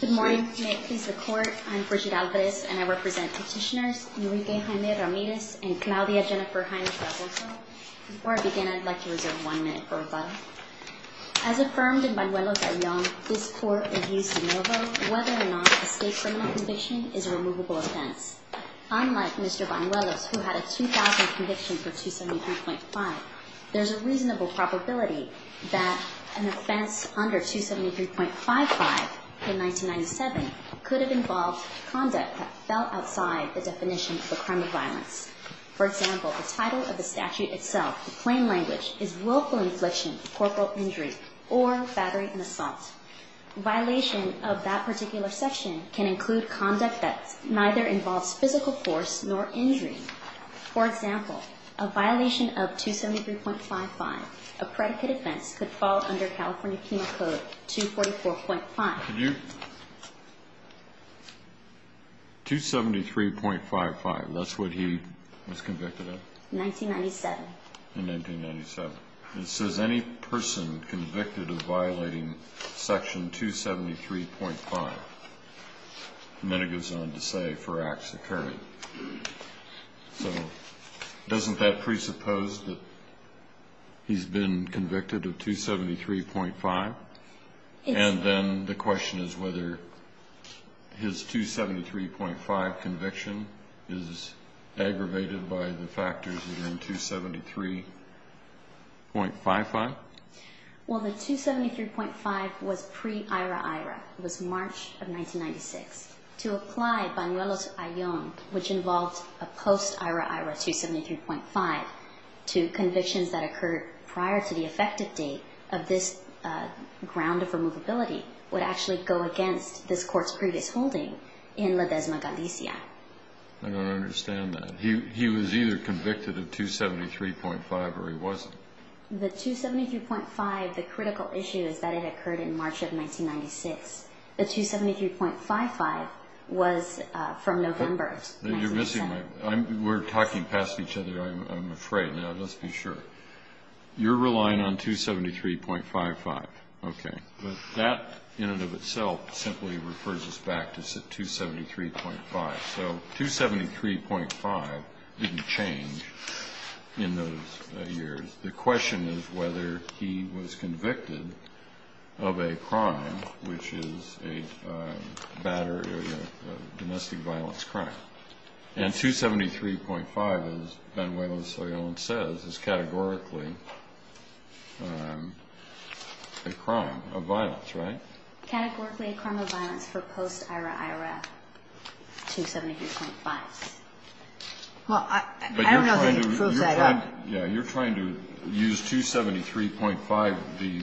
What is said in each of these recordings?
Good morning. May it please the Court, I'm Brigitte Alvarez and I represent petitioners Enrique Jaime Ramirez and Claudia Jennifer Heinrich-Raposo. Before I begin, I'd like to reserve one minute for rebuttal. As affirmed in Banuelos at Young, this Court reviews de novo whether or not a state criminal conviction is a removable offense. Unlike Mr. Banuelos, who had a 2000 conviction for 273.5, there's a reasonable probability that an offense under 273.55 in 1997 could have involved conduct that fell outside the definition of a crime of violence. For example, the title of the statute itself, in plain language, is willful infliction of corporal injury or battery and assault. Violation of that particular section can include conduct that neither involves physical force nor injury. For example, a violation of 273.55, a predicate offense, could fall under California Penal Code 244.5. 273.55, that's what he was convicted of? In 1997. In 1997. It says any person convicted of violating section 273.5. And then it goes on to say for acts occurring. So doesn't that presuppose that he's been convicted of 273.5? And then the question is whether his 273.5 conviction is aggravated by the factors within 273.55? Well, the 273.5 was pre-IRA-IRA. It was March of 1996. To apply Banuelos-Aillon, which involved a post-IRA-IRA 273.5, to convictions that occurred prior to the effective date of this ground of removability would actually go against this court's previous holding in La Desma Galicia. I don't understand that. He was either convicted of 273.5 or he wasn't. The 273.5, the critical issue is that it occurred in March of 1996. The 273.55 was from November of 1997. You're missing my point. We're talking past each other, I'm afraid. Now, let's be sure. You're relying on 273.55. Okay. But that in and of itself simply refers us back to 273.5. So 273.5 didn't change in those years. The question is whether he was convicted of a crime, which is a domestic violence crime. And 273.5, as Banuelos-Aillon says, is categorically a crime of violence, right? Categorically a crime of violence for post-IRA-IRA 273.5. Well, I don't know that you can prove that up. Yeah, you're trying to use 273.5, the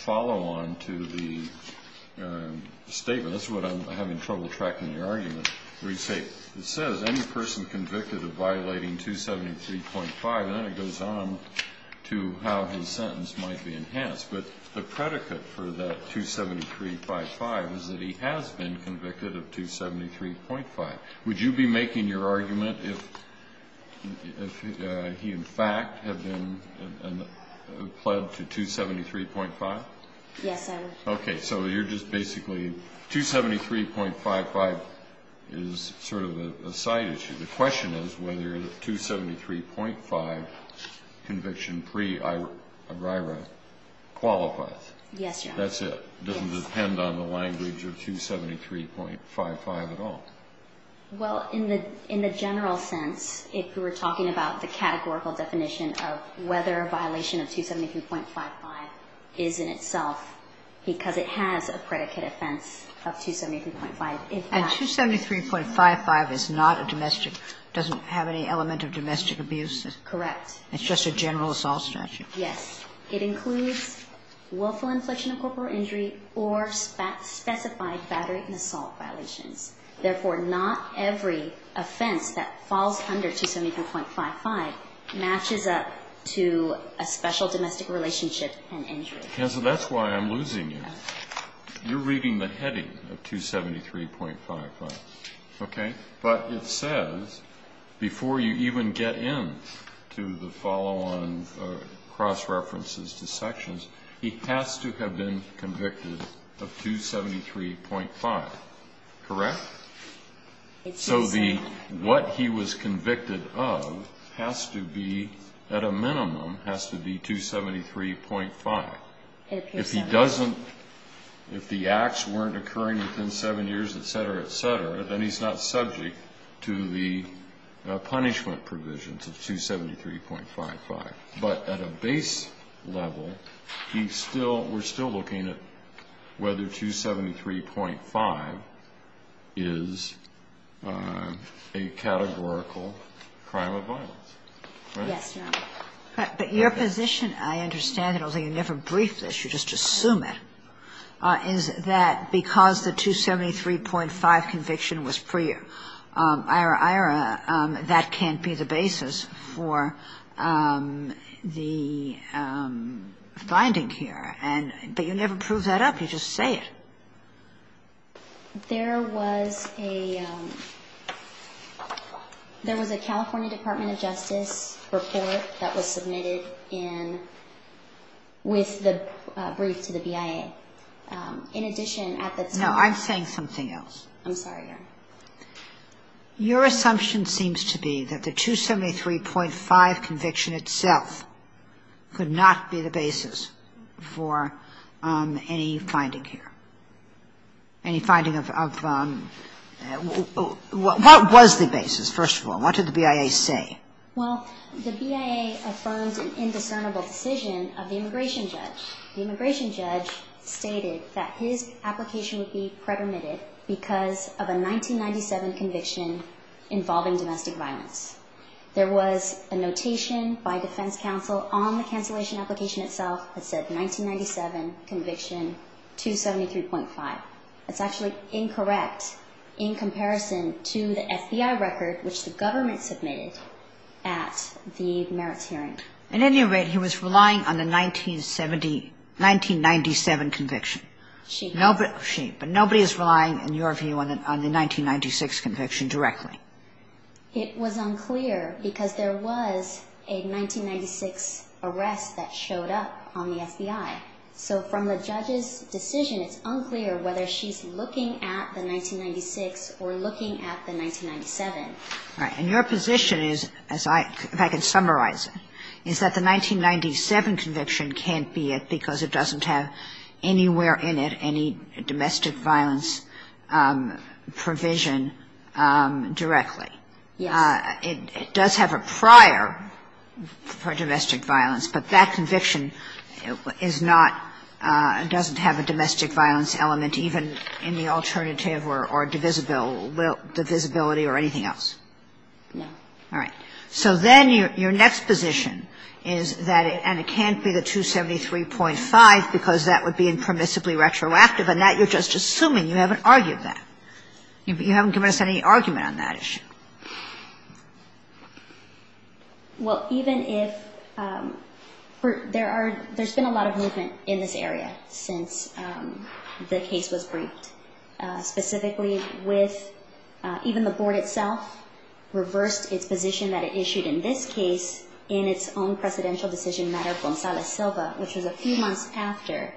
follow-on to the statement. That's what I'm having trouble tracking the argument. It says, any person convicted of violating 273.5, and then it goes on to how his sentence might be enhanced. But the predicate for that 273.55 is that he has been convicted of 273.5. Would you be making your argument if he, in fact, had been pled to 273.5? Yes, I would. Okay. So you're just basically 273.55 is sort of a side issue. The question is whether the 273.5 conviction pre-IRA qualifies. Yes, Your Honor. That's it. It doesn't depend on the language of 273.55 at all. Well, in the general sense, if we were talking about the categorical definition of whether a violation of 273.55 is in itself, because it has a predicate offense of 273.55, if that. And 273.55 is not a domestic, doesn't have any element of domestic abuse. Correct. It's just a general assault statute. Yes. It includes willful infliction of corporal injury or specified battery and assault violations. Therefore, not every offense that falls under 273.55 matches up to a special domestic relationship and injury. Kansa, that's why I'm losing you. You're reading the heading of 273.55. Okay? But it says before you even get in to the follow-on cross-references to sections, he has to have been convicted of 273.5. Correct? So what he was convicted of has to be, at a minimum, has to be 273.5. If he doesn't, if the acts weren't occurring within seven years, et cetera, et cetera, then he's not subject to the punishment provisions of 273.55. But at a base level, he still, we're still looking at whether 273.5 is a categorical crime of violence. Right? Yes, Your Honor. But your position, I understand, although you never briefed this, you just assume it, is that because the 273.5 conviction was pre-Ira-Ira, that can't be the basis for the finding here. And, but you never prove that up. You just say it. There was a, there was a California Department of Justice report that was submitted in, with the brief to the BIA. In addition, at the time... No, I'm saying something else. I'm sorry, Your Honor. Your assumption seems to be that the 273.5 conviction itself could not be the basis for any finding here. Any finding of, of, what was the basis, first of all? What did the BIA say? Well, the BIA affirms an indiscernible decision of the immigration judge. The immigration judge stated that his application would be pre-permitted because of a 1997 conviction involving domestic violence. There was a notation by defense counsel on the cancellation application itself that said 1997 conviction, 273.5. That's actually incorrect in comparison to the FBI record, which the government submitted at the merits hearing. At any rate, he was relying on the 1970, 1997 conviction. She had. She. But nobody is relying, in your view, on the 1996 conviction directly. It was unclear because there was a 1996 arrest that showed up on the FBI. So from the judge's decision, it's unclear whether she's looking at the 1996 or looking at the 1997. Right. And your position is, if I can summarize it, is that the 1997 conviction can't be it because it doesn't have anywhere in it any domestic violence provision directly. Yes. It does have a prior for domestic violence, but that conviction is not, doesn't have a domestic violence element even in the alternative or divisibility or anything else. No. All right. So then your next position is that, and it can't be the 273.5 because that would be impermissibly retroactive, and that you're just assuming. You haven't argued that. You haven't given us any argument on that issue. Well, even if there are, there's been a lot of movement in this area since the case was briefed, specifically with, even the board itself reversed its position that it issued in this case in its own presidential decision matter, Gonzalez-Silva, which was a few months after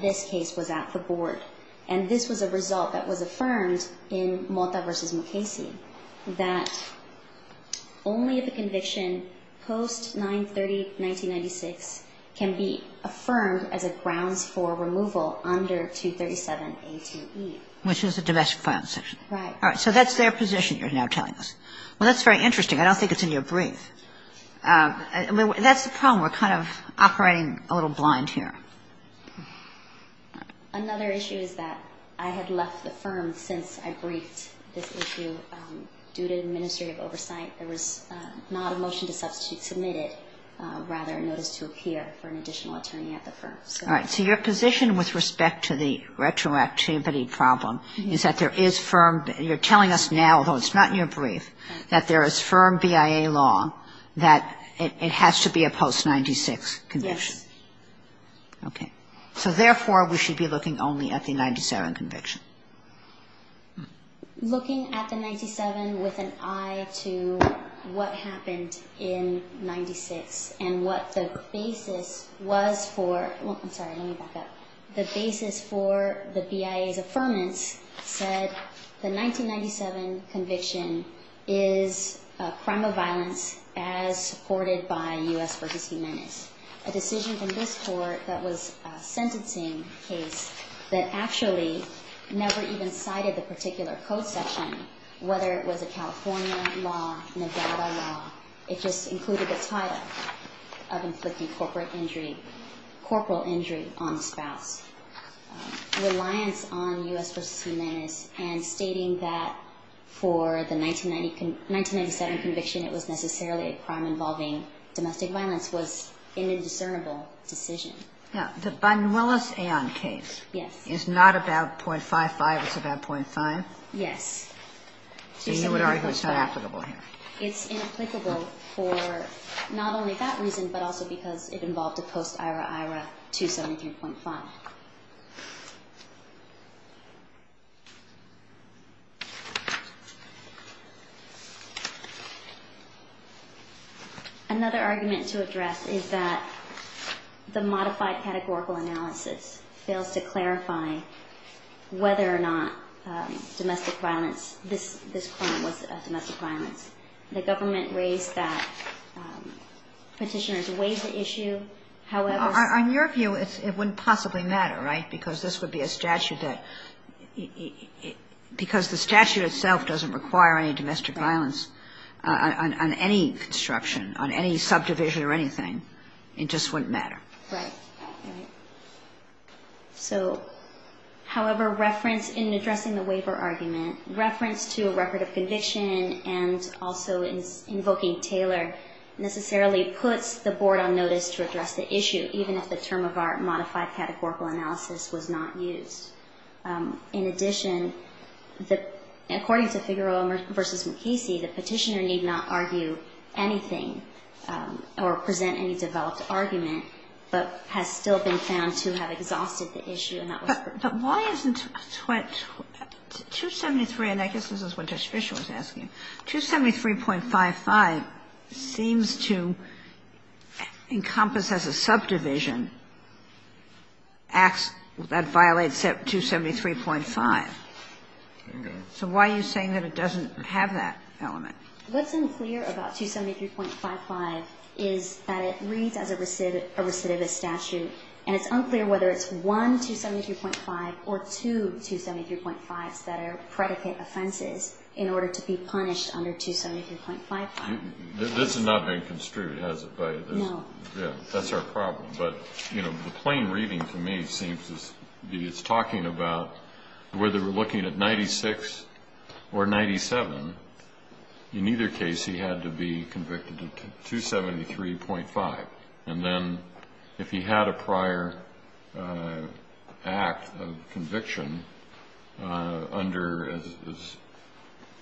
this case was at the board. And this was a result that was affirmed in Mota v. Mukasey, that only if a conviction post-930-1996 can be affirmed as a grounds for removal under 237A-2E. Which is a domestic violence section. Right. All right. So that's their position you're now telling us. Well, that's very interesting. I don't think it's in your brief. That's the problem. We're kind of operating a little blind here. Another issue is that I had left the firm since I briefed this issue due to administrative oversight. There was not a motion to substitute submitted, rather a notice to appear for an additional attorney at the firm. All right. So your position with respect to the retroactivity problem is that there is firm, you're telling us now, although it's not in your brief, that there is firm BIA law that it has to be a post-96 conviction. Yes. Okay. So therefore, we should be looking only at the 97 conviction. Looking at the 97 with an eye to what happened in 96 and what the basis was for, I'm sorry, let me back up. The basis for the BIA's affirmance said the 1997 conviction is a crime of violence as supported by U.S. v. Humanis. A decision from this court that was a sentencing case that actually never even cited the particular code section, whether it was a California law, Nevada law. It just included the title of inflicting corporate injury, corporal injury on the spouse. Reliance on U.S. v. Humanis and stating that for the 1997 conviction it was necessarily a discernible decision. Now, the Bunwellis-Ann case is not about .55, it's about .5? Yes. So you would argue it's not applicable here? It's inapplicable for not only that reason, but also because it involved a post-Ira-Ira 273.5. Another argument to address is that the modified categorical analysis fails to clarify whether or not domestic violence, this crime was a domestic violence. The government raised that petitioners weighed the issue, however... On your view, it wouldn't possibly matter, right? Because this would be a statute that, because the statute itself doesn't require any domestic violence on any construction, on any subdivision or anything, it just wouldn't matter. Right. So, however, reference in addressing the waiver argument, reference to a record of conviction and also invoking Taylor necessarily puts the board on notice to address the issue, even if the statute itself was not used. In addition, according to Figueroa v. Mukasey, the petitioner need not argue anything or present any developed argument, but has still been found to have exhausted the issue. But why isn't 273, and I guess this is what Judge Fischer was asking, 273.55 seems to me to be an element that violates 273.5. So why are you saying that it doesn't have that element? What's unclear about 273.55 is that it reads as a recidivist statute, and it's unclear whether it's one 273.5 or two 273.5s that are predicate offenses in order to be punished under 273.55. This has not been construed, has it, by this? No. That's our problem. But, you know, the plain reading to me seems to be it's talking about whether we're looking at 96 or 97, in either case he had to be convicted of 273.5. And then if he had a prior act of conviction under, as it was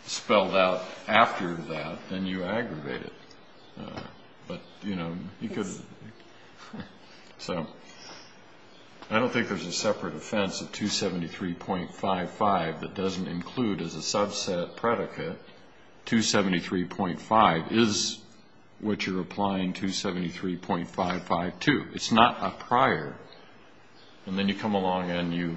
spelled out after that, then you aggravate it. But, you know, he could. So I don't think there's a separate offense of 273.55 that doesn't include as a subset predicate 273.5 is what you're applying 273.55 to. It's not a prior. And then you come along and you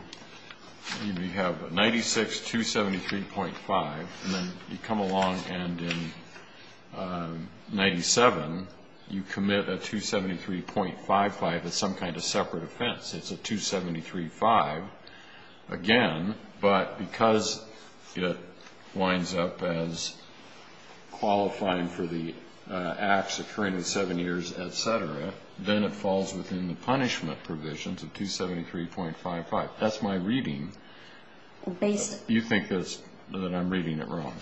have 96, 273.5. And then you come along and in 97, you commit a 273.55. It's some kind of separate offense. It's a 273.5 again. But because it winds up as qualifying for the acts occurring in seven years, et cetera, then it falls within the punishment provisions of 273.55. That's my reading. You think that I'm reading it wrong.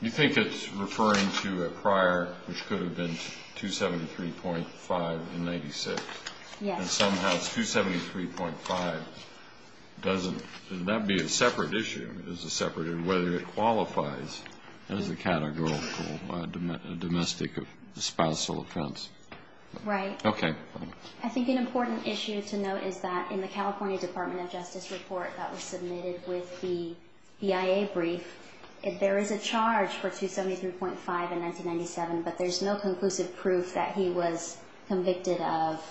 You think it's referring to a prior which could have been 273.5 in 96. Yes. And somehow 273.5 doesn't be a separate issue. Whether it qualifies as a categorical domestic spousal offense. Right. Okay. I think an important issue to note is that in the California Department of Justice report that was submitted with the BIA brief, there is a charge for 273.5 in 1997, but there's no conclusive proof that he was convicted of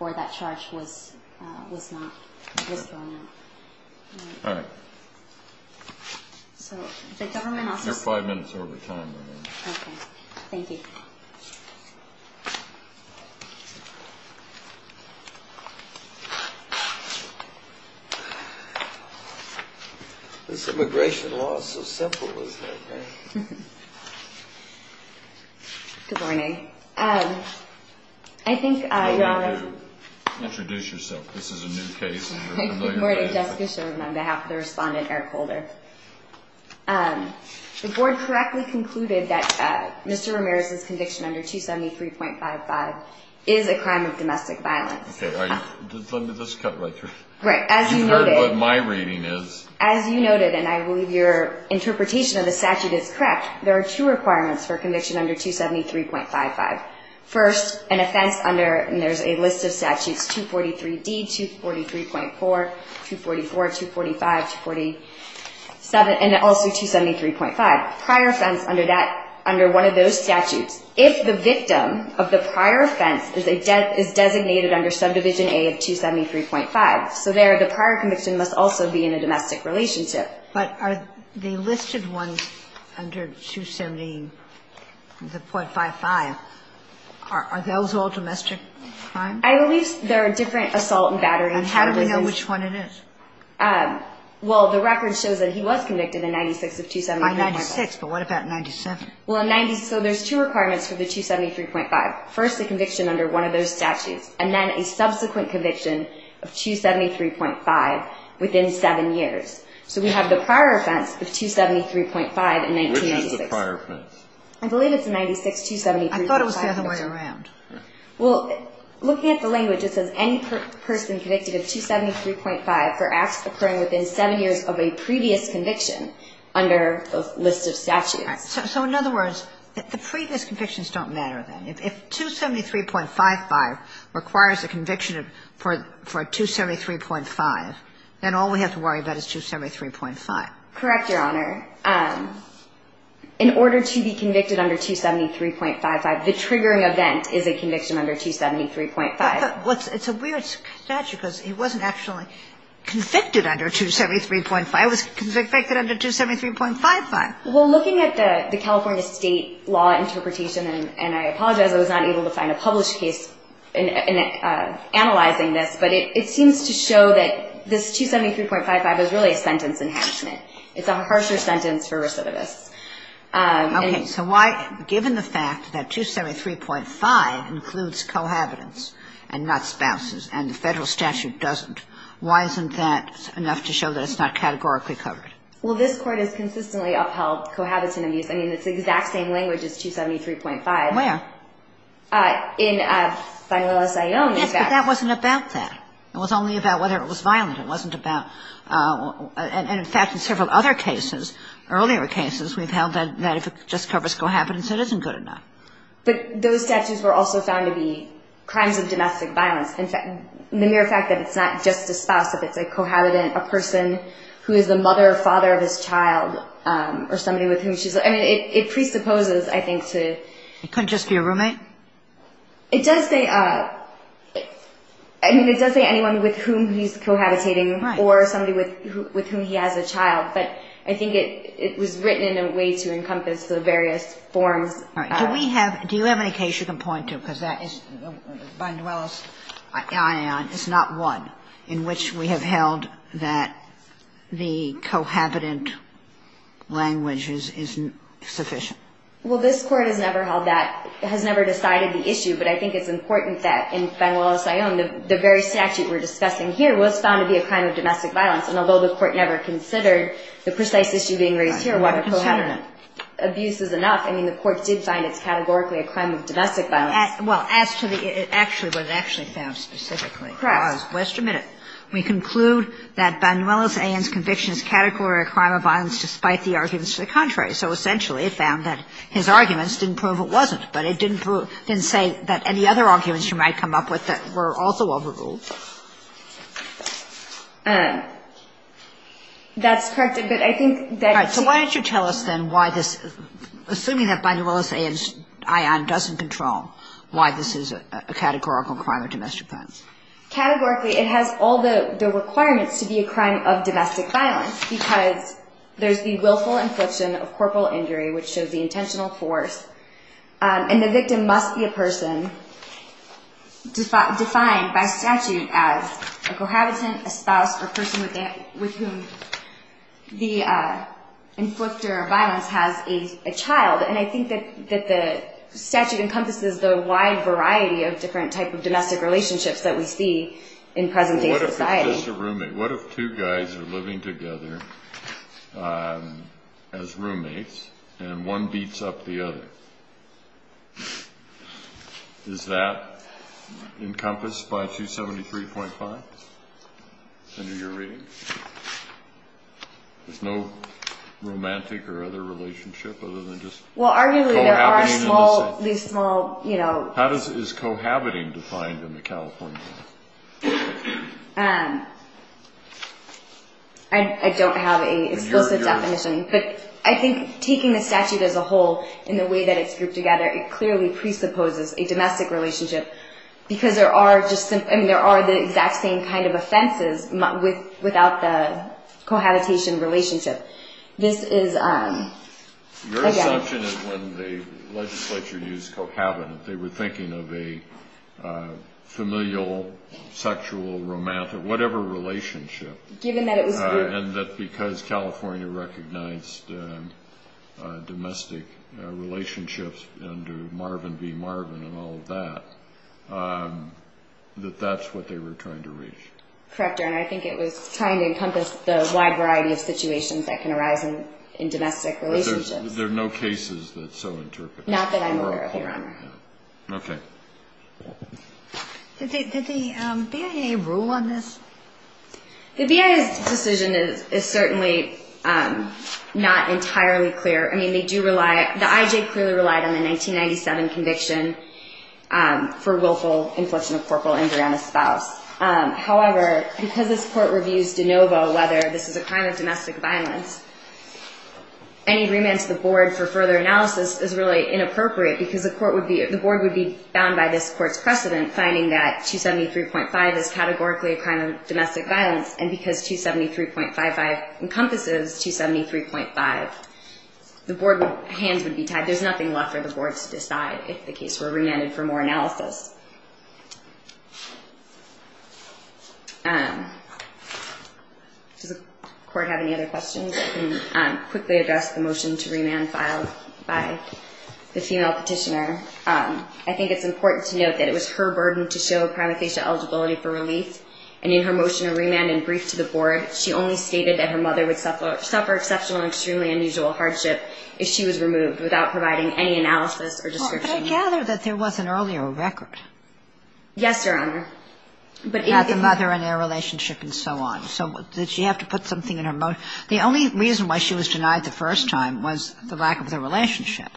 or that charge was not. All right. So the government also says. You're five minutes over time right now. Okay. Thank you. This immigration law is so simple, isn't it? Good morning. I think, Your Honor. I know you do. Introduce yourself. This is a new case. Good morning. Jessica Sherman on behalf of the respondent Eric Holder. The board correctly concluded that Mr. Ramirez's conviction under 273.55 is a crime of domestic violence. Okay. Let me just cut right through. Right. As you noted. You've heard what my reading is. As you noted, and I believe your interpretation of the statute is correct, there are two requirements for conviction under 273.55. First, an offense under, and there's a list of statutes, 243D, 243.4, 244, 245, 247, and also 273.5. Prior offense under that, under one of those statutes, if the victim of the prior offense is designated under subdivision A of 273.5. So there, the prior conviction must also be in a domestic relationship. But are the listed ones under 273.55, are those all domestic crimes? I believe there are different assault and battery. And how do we know which one it is? Well, the record shows that he was convicted in 96 of 273.5. By 96. But what about 97? Well, in 90, so there's two requirements for the 273.5. First, the conviction under one of those statutes. And then a subsequent conviction of 273.5 within seven years. So we have the prior offense of 273.5 in 1996. Which is the prior offense? I believe it's in 96, 273.5. I thought it was the other way around. Well, looking at the language, it says any person convicted of 273.5 for acts occurring within seven years of a previous conviction under a list of statutes. So in other words, the previous convictions don't matter then. If 273.55 requires a conviction for 273.5, then all we have to worry about is 273.5. Correct, Your Honor. In order to be convicted under 273.55, the triggering event is a conviction under 273.5. It's a weird statute because he wasn't actually convicted under 273.5. It was convicted under 273.55. Well, looking at the California state law interpretation, and I apologize I was not able to find a published case analyzing this, but it seems to show that this 273.55 is really a sentence enhancement. It's a harsher sentence for recidivists. Okay. So why, given the fact that 273.5 includes cohabitants and not spouses, and the federal statute doesn't, why isn't that enough to show that it's not categorically covered? Well, this Court has consistently upheld cohabitant abuse. I mean, it's the exact same language as 273.5. Where? In final SIO. Yes, but that wasn't about that. It was only about whether it was violent. It wasn't about – and, in fact, in several other cases, earlier cases, we've held that if it just covers cohabitants, it isn't good enough. But those statutes were also found to be crimes of domestic violence. In fact, the mere fact that it's not just a spouse, if it's a cohabitant, a person who is the mother or father of his child, or somebody with whom she's – I mean, it presupposes, I think, to – It couldn't just be a roommate? It does say – I mean, it does say anyone with whom he's cohabitating. Right. Or somebody with whom he has a child. But I think it was written in a way to encompass the various forms. All right. Do we have – do you have any case you can point to? Because that is – Bindwellis-Ion is not one in which we have held that the cohabitant language is sufficient. Well, this Court has never held that – has never decided the issue. But I think it's important that in Bindwellis-Ion, the very statute we're discussing here was found to be a crime of domestic violence. And although the Court never considered the precise issue being raised here, whether cohabitant abuse is enough, I mean, the Court did find it's categorically a crime of domestic violence. Well, as to the – actually, what it actually found specifically – Correct. Let's admit it. We conclude that Bindwellis-Ion's conviction is categorically a crime of violence despite the arguments to the contrary. So essentially, it found that his arguments didn't prove it wasn't. But it didn't say that any other arguments you might come up with that were also overruled. That's correct. But I think that – All right. So why don't you tell us then why this – assuming that Bindwellis-Ion doesn't control why this is a categorical crime of domestic violence. Categorically, it has all the requirements to be a crime of domestic violence because there's the willful infliction of corporal injury, which shows the intentional force. And the victim must be a person defined by statute as a cohabitant, a spouse, or a person with whom the inflictor of violence has a child. And I think that the statute encompasses the wide variety of different types of domestic relationships that we see in present-day society. Well, what if it's just a roommate? What if two guys are living together as roommates and one beats up the other? Is that encompassed by 273.5 under your reading? There's no romantic or other relationship other than just cohabiting in the same – Well, arguably there are small – these small, you know – How does – is cohabiting defined in the California law? I don't have an explicit definition. But I think taking the statute as a whole in the way that it's grouped together, it clearly presupposes a domestic relationship because there are just – I mean, there are the exact same kind of offenses without the cohabitation relationship. This is – Your assumption is when the legislature used cohabitant, they were thinking of a familial, sexual, romantic, whatever relationship. Given that it was clear. And that because California recognized domestic relationships under Marvin v. Marvin and all of that, that that's what they were trying to reach. Correct, Your Honor. I think it was trying to encompass the wide variety of situations that can arise in domestic relationships. There are no cases that so interpret. Not that I'm aware of, Your Honor. Okay. Did the BIA rule on this? The BIA's decision is certainly not entirely clear. I mean, they do rely – the IJ clearly relied on the 1997 conviction for willful infliction of corporal injury on a spouse. However, because this Court reviews de novo whether this is a crime of domestic violence, any agreement to the Board for further analysis is really inappropriate because the Court would be – the Board would be bound by this Court's precedent, finding that 273.5 is categorically a crime of domestic violence. And because 273.55 encompasses 273.5, the Board would – hands would be tied. There's nothing left for the Board to decide if the case were remanded for more analysis. Does the Court have any other questions? I can quickly address the motion to remand filed by the female petitioner. I think it's important to note that it was her burden to show prima facie eligibility for relief. And in her motion to remand and brief to the Board, she only stated that her mother would suffer exceptional and extremely unusual hardship if she was removed without providing any analysis or description. But I gather that there was an earlier record. Yes, Your Honor. About the mother and their relationship and so on. So did she have to put something in her – the only reason why she was denied the first time was the lack of the relationship.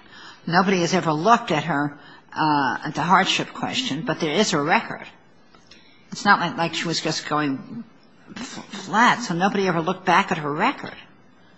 Nobody has ever looked at her – at the hardship question, but there is a record. It's not like she was just going flat. So nobody ever looked back at her record.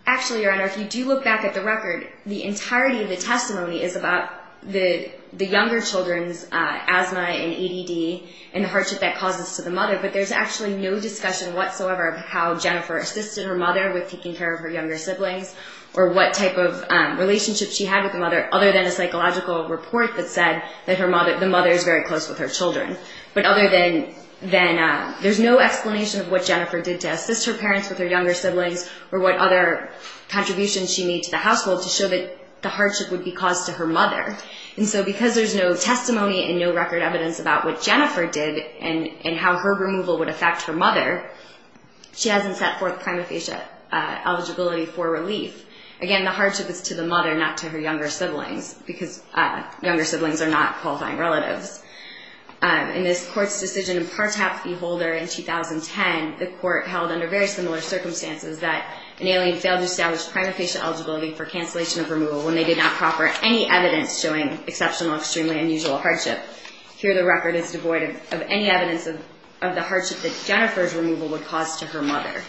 Actually, Your Honor, if you do look back at the record, the entirety of the testimony is about the younger children's asthma and ADD and the hardship that causes to the mother. But there's actually no discussion whatsoever of how Jennifer assisted her mother with taking care of her younger siblings or what type of relationship she had with the mother, other than a psychological report that said that the mother is very close with her children. But other than that, there's no explanation of what Jennifer did to assist her parents with her younger siblings or what other contributions she made to the household to show that the hardship would be caused to her mother. And so because there's no testimony and no record evidence about what Jennifer did and how her removal would affect her mother, she hasn't set forth prima facie eligibility for relief. Again, the hardship is to the mother, not to her younger siblings, because younger siblings are not qualifying relatives. In this Court's decision in Partap v. Holder in 2010, the Court held under very similar circumstances that an alien failed to establish prima facie eligibility for cancellation of removal when they did not proper any evidence showing exceptional, extremely unusual hardship. Here the record is devoid of any evidence of the hardship that Jennifer's removal would cause to her mother.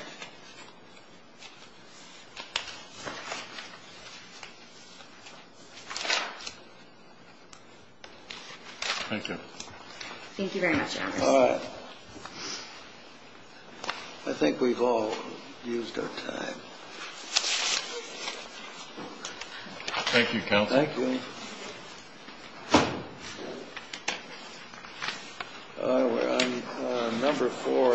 Thank you. Thank you very much, Anders. All right. I think we've all used our time. Thank you, Counsel. Thank you. All right, we're on number four.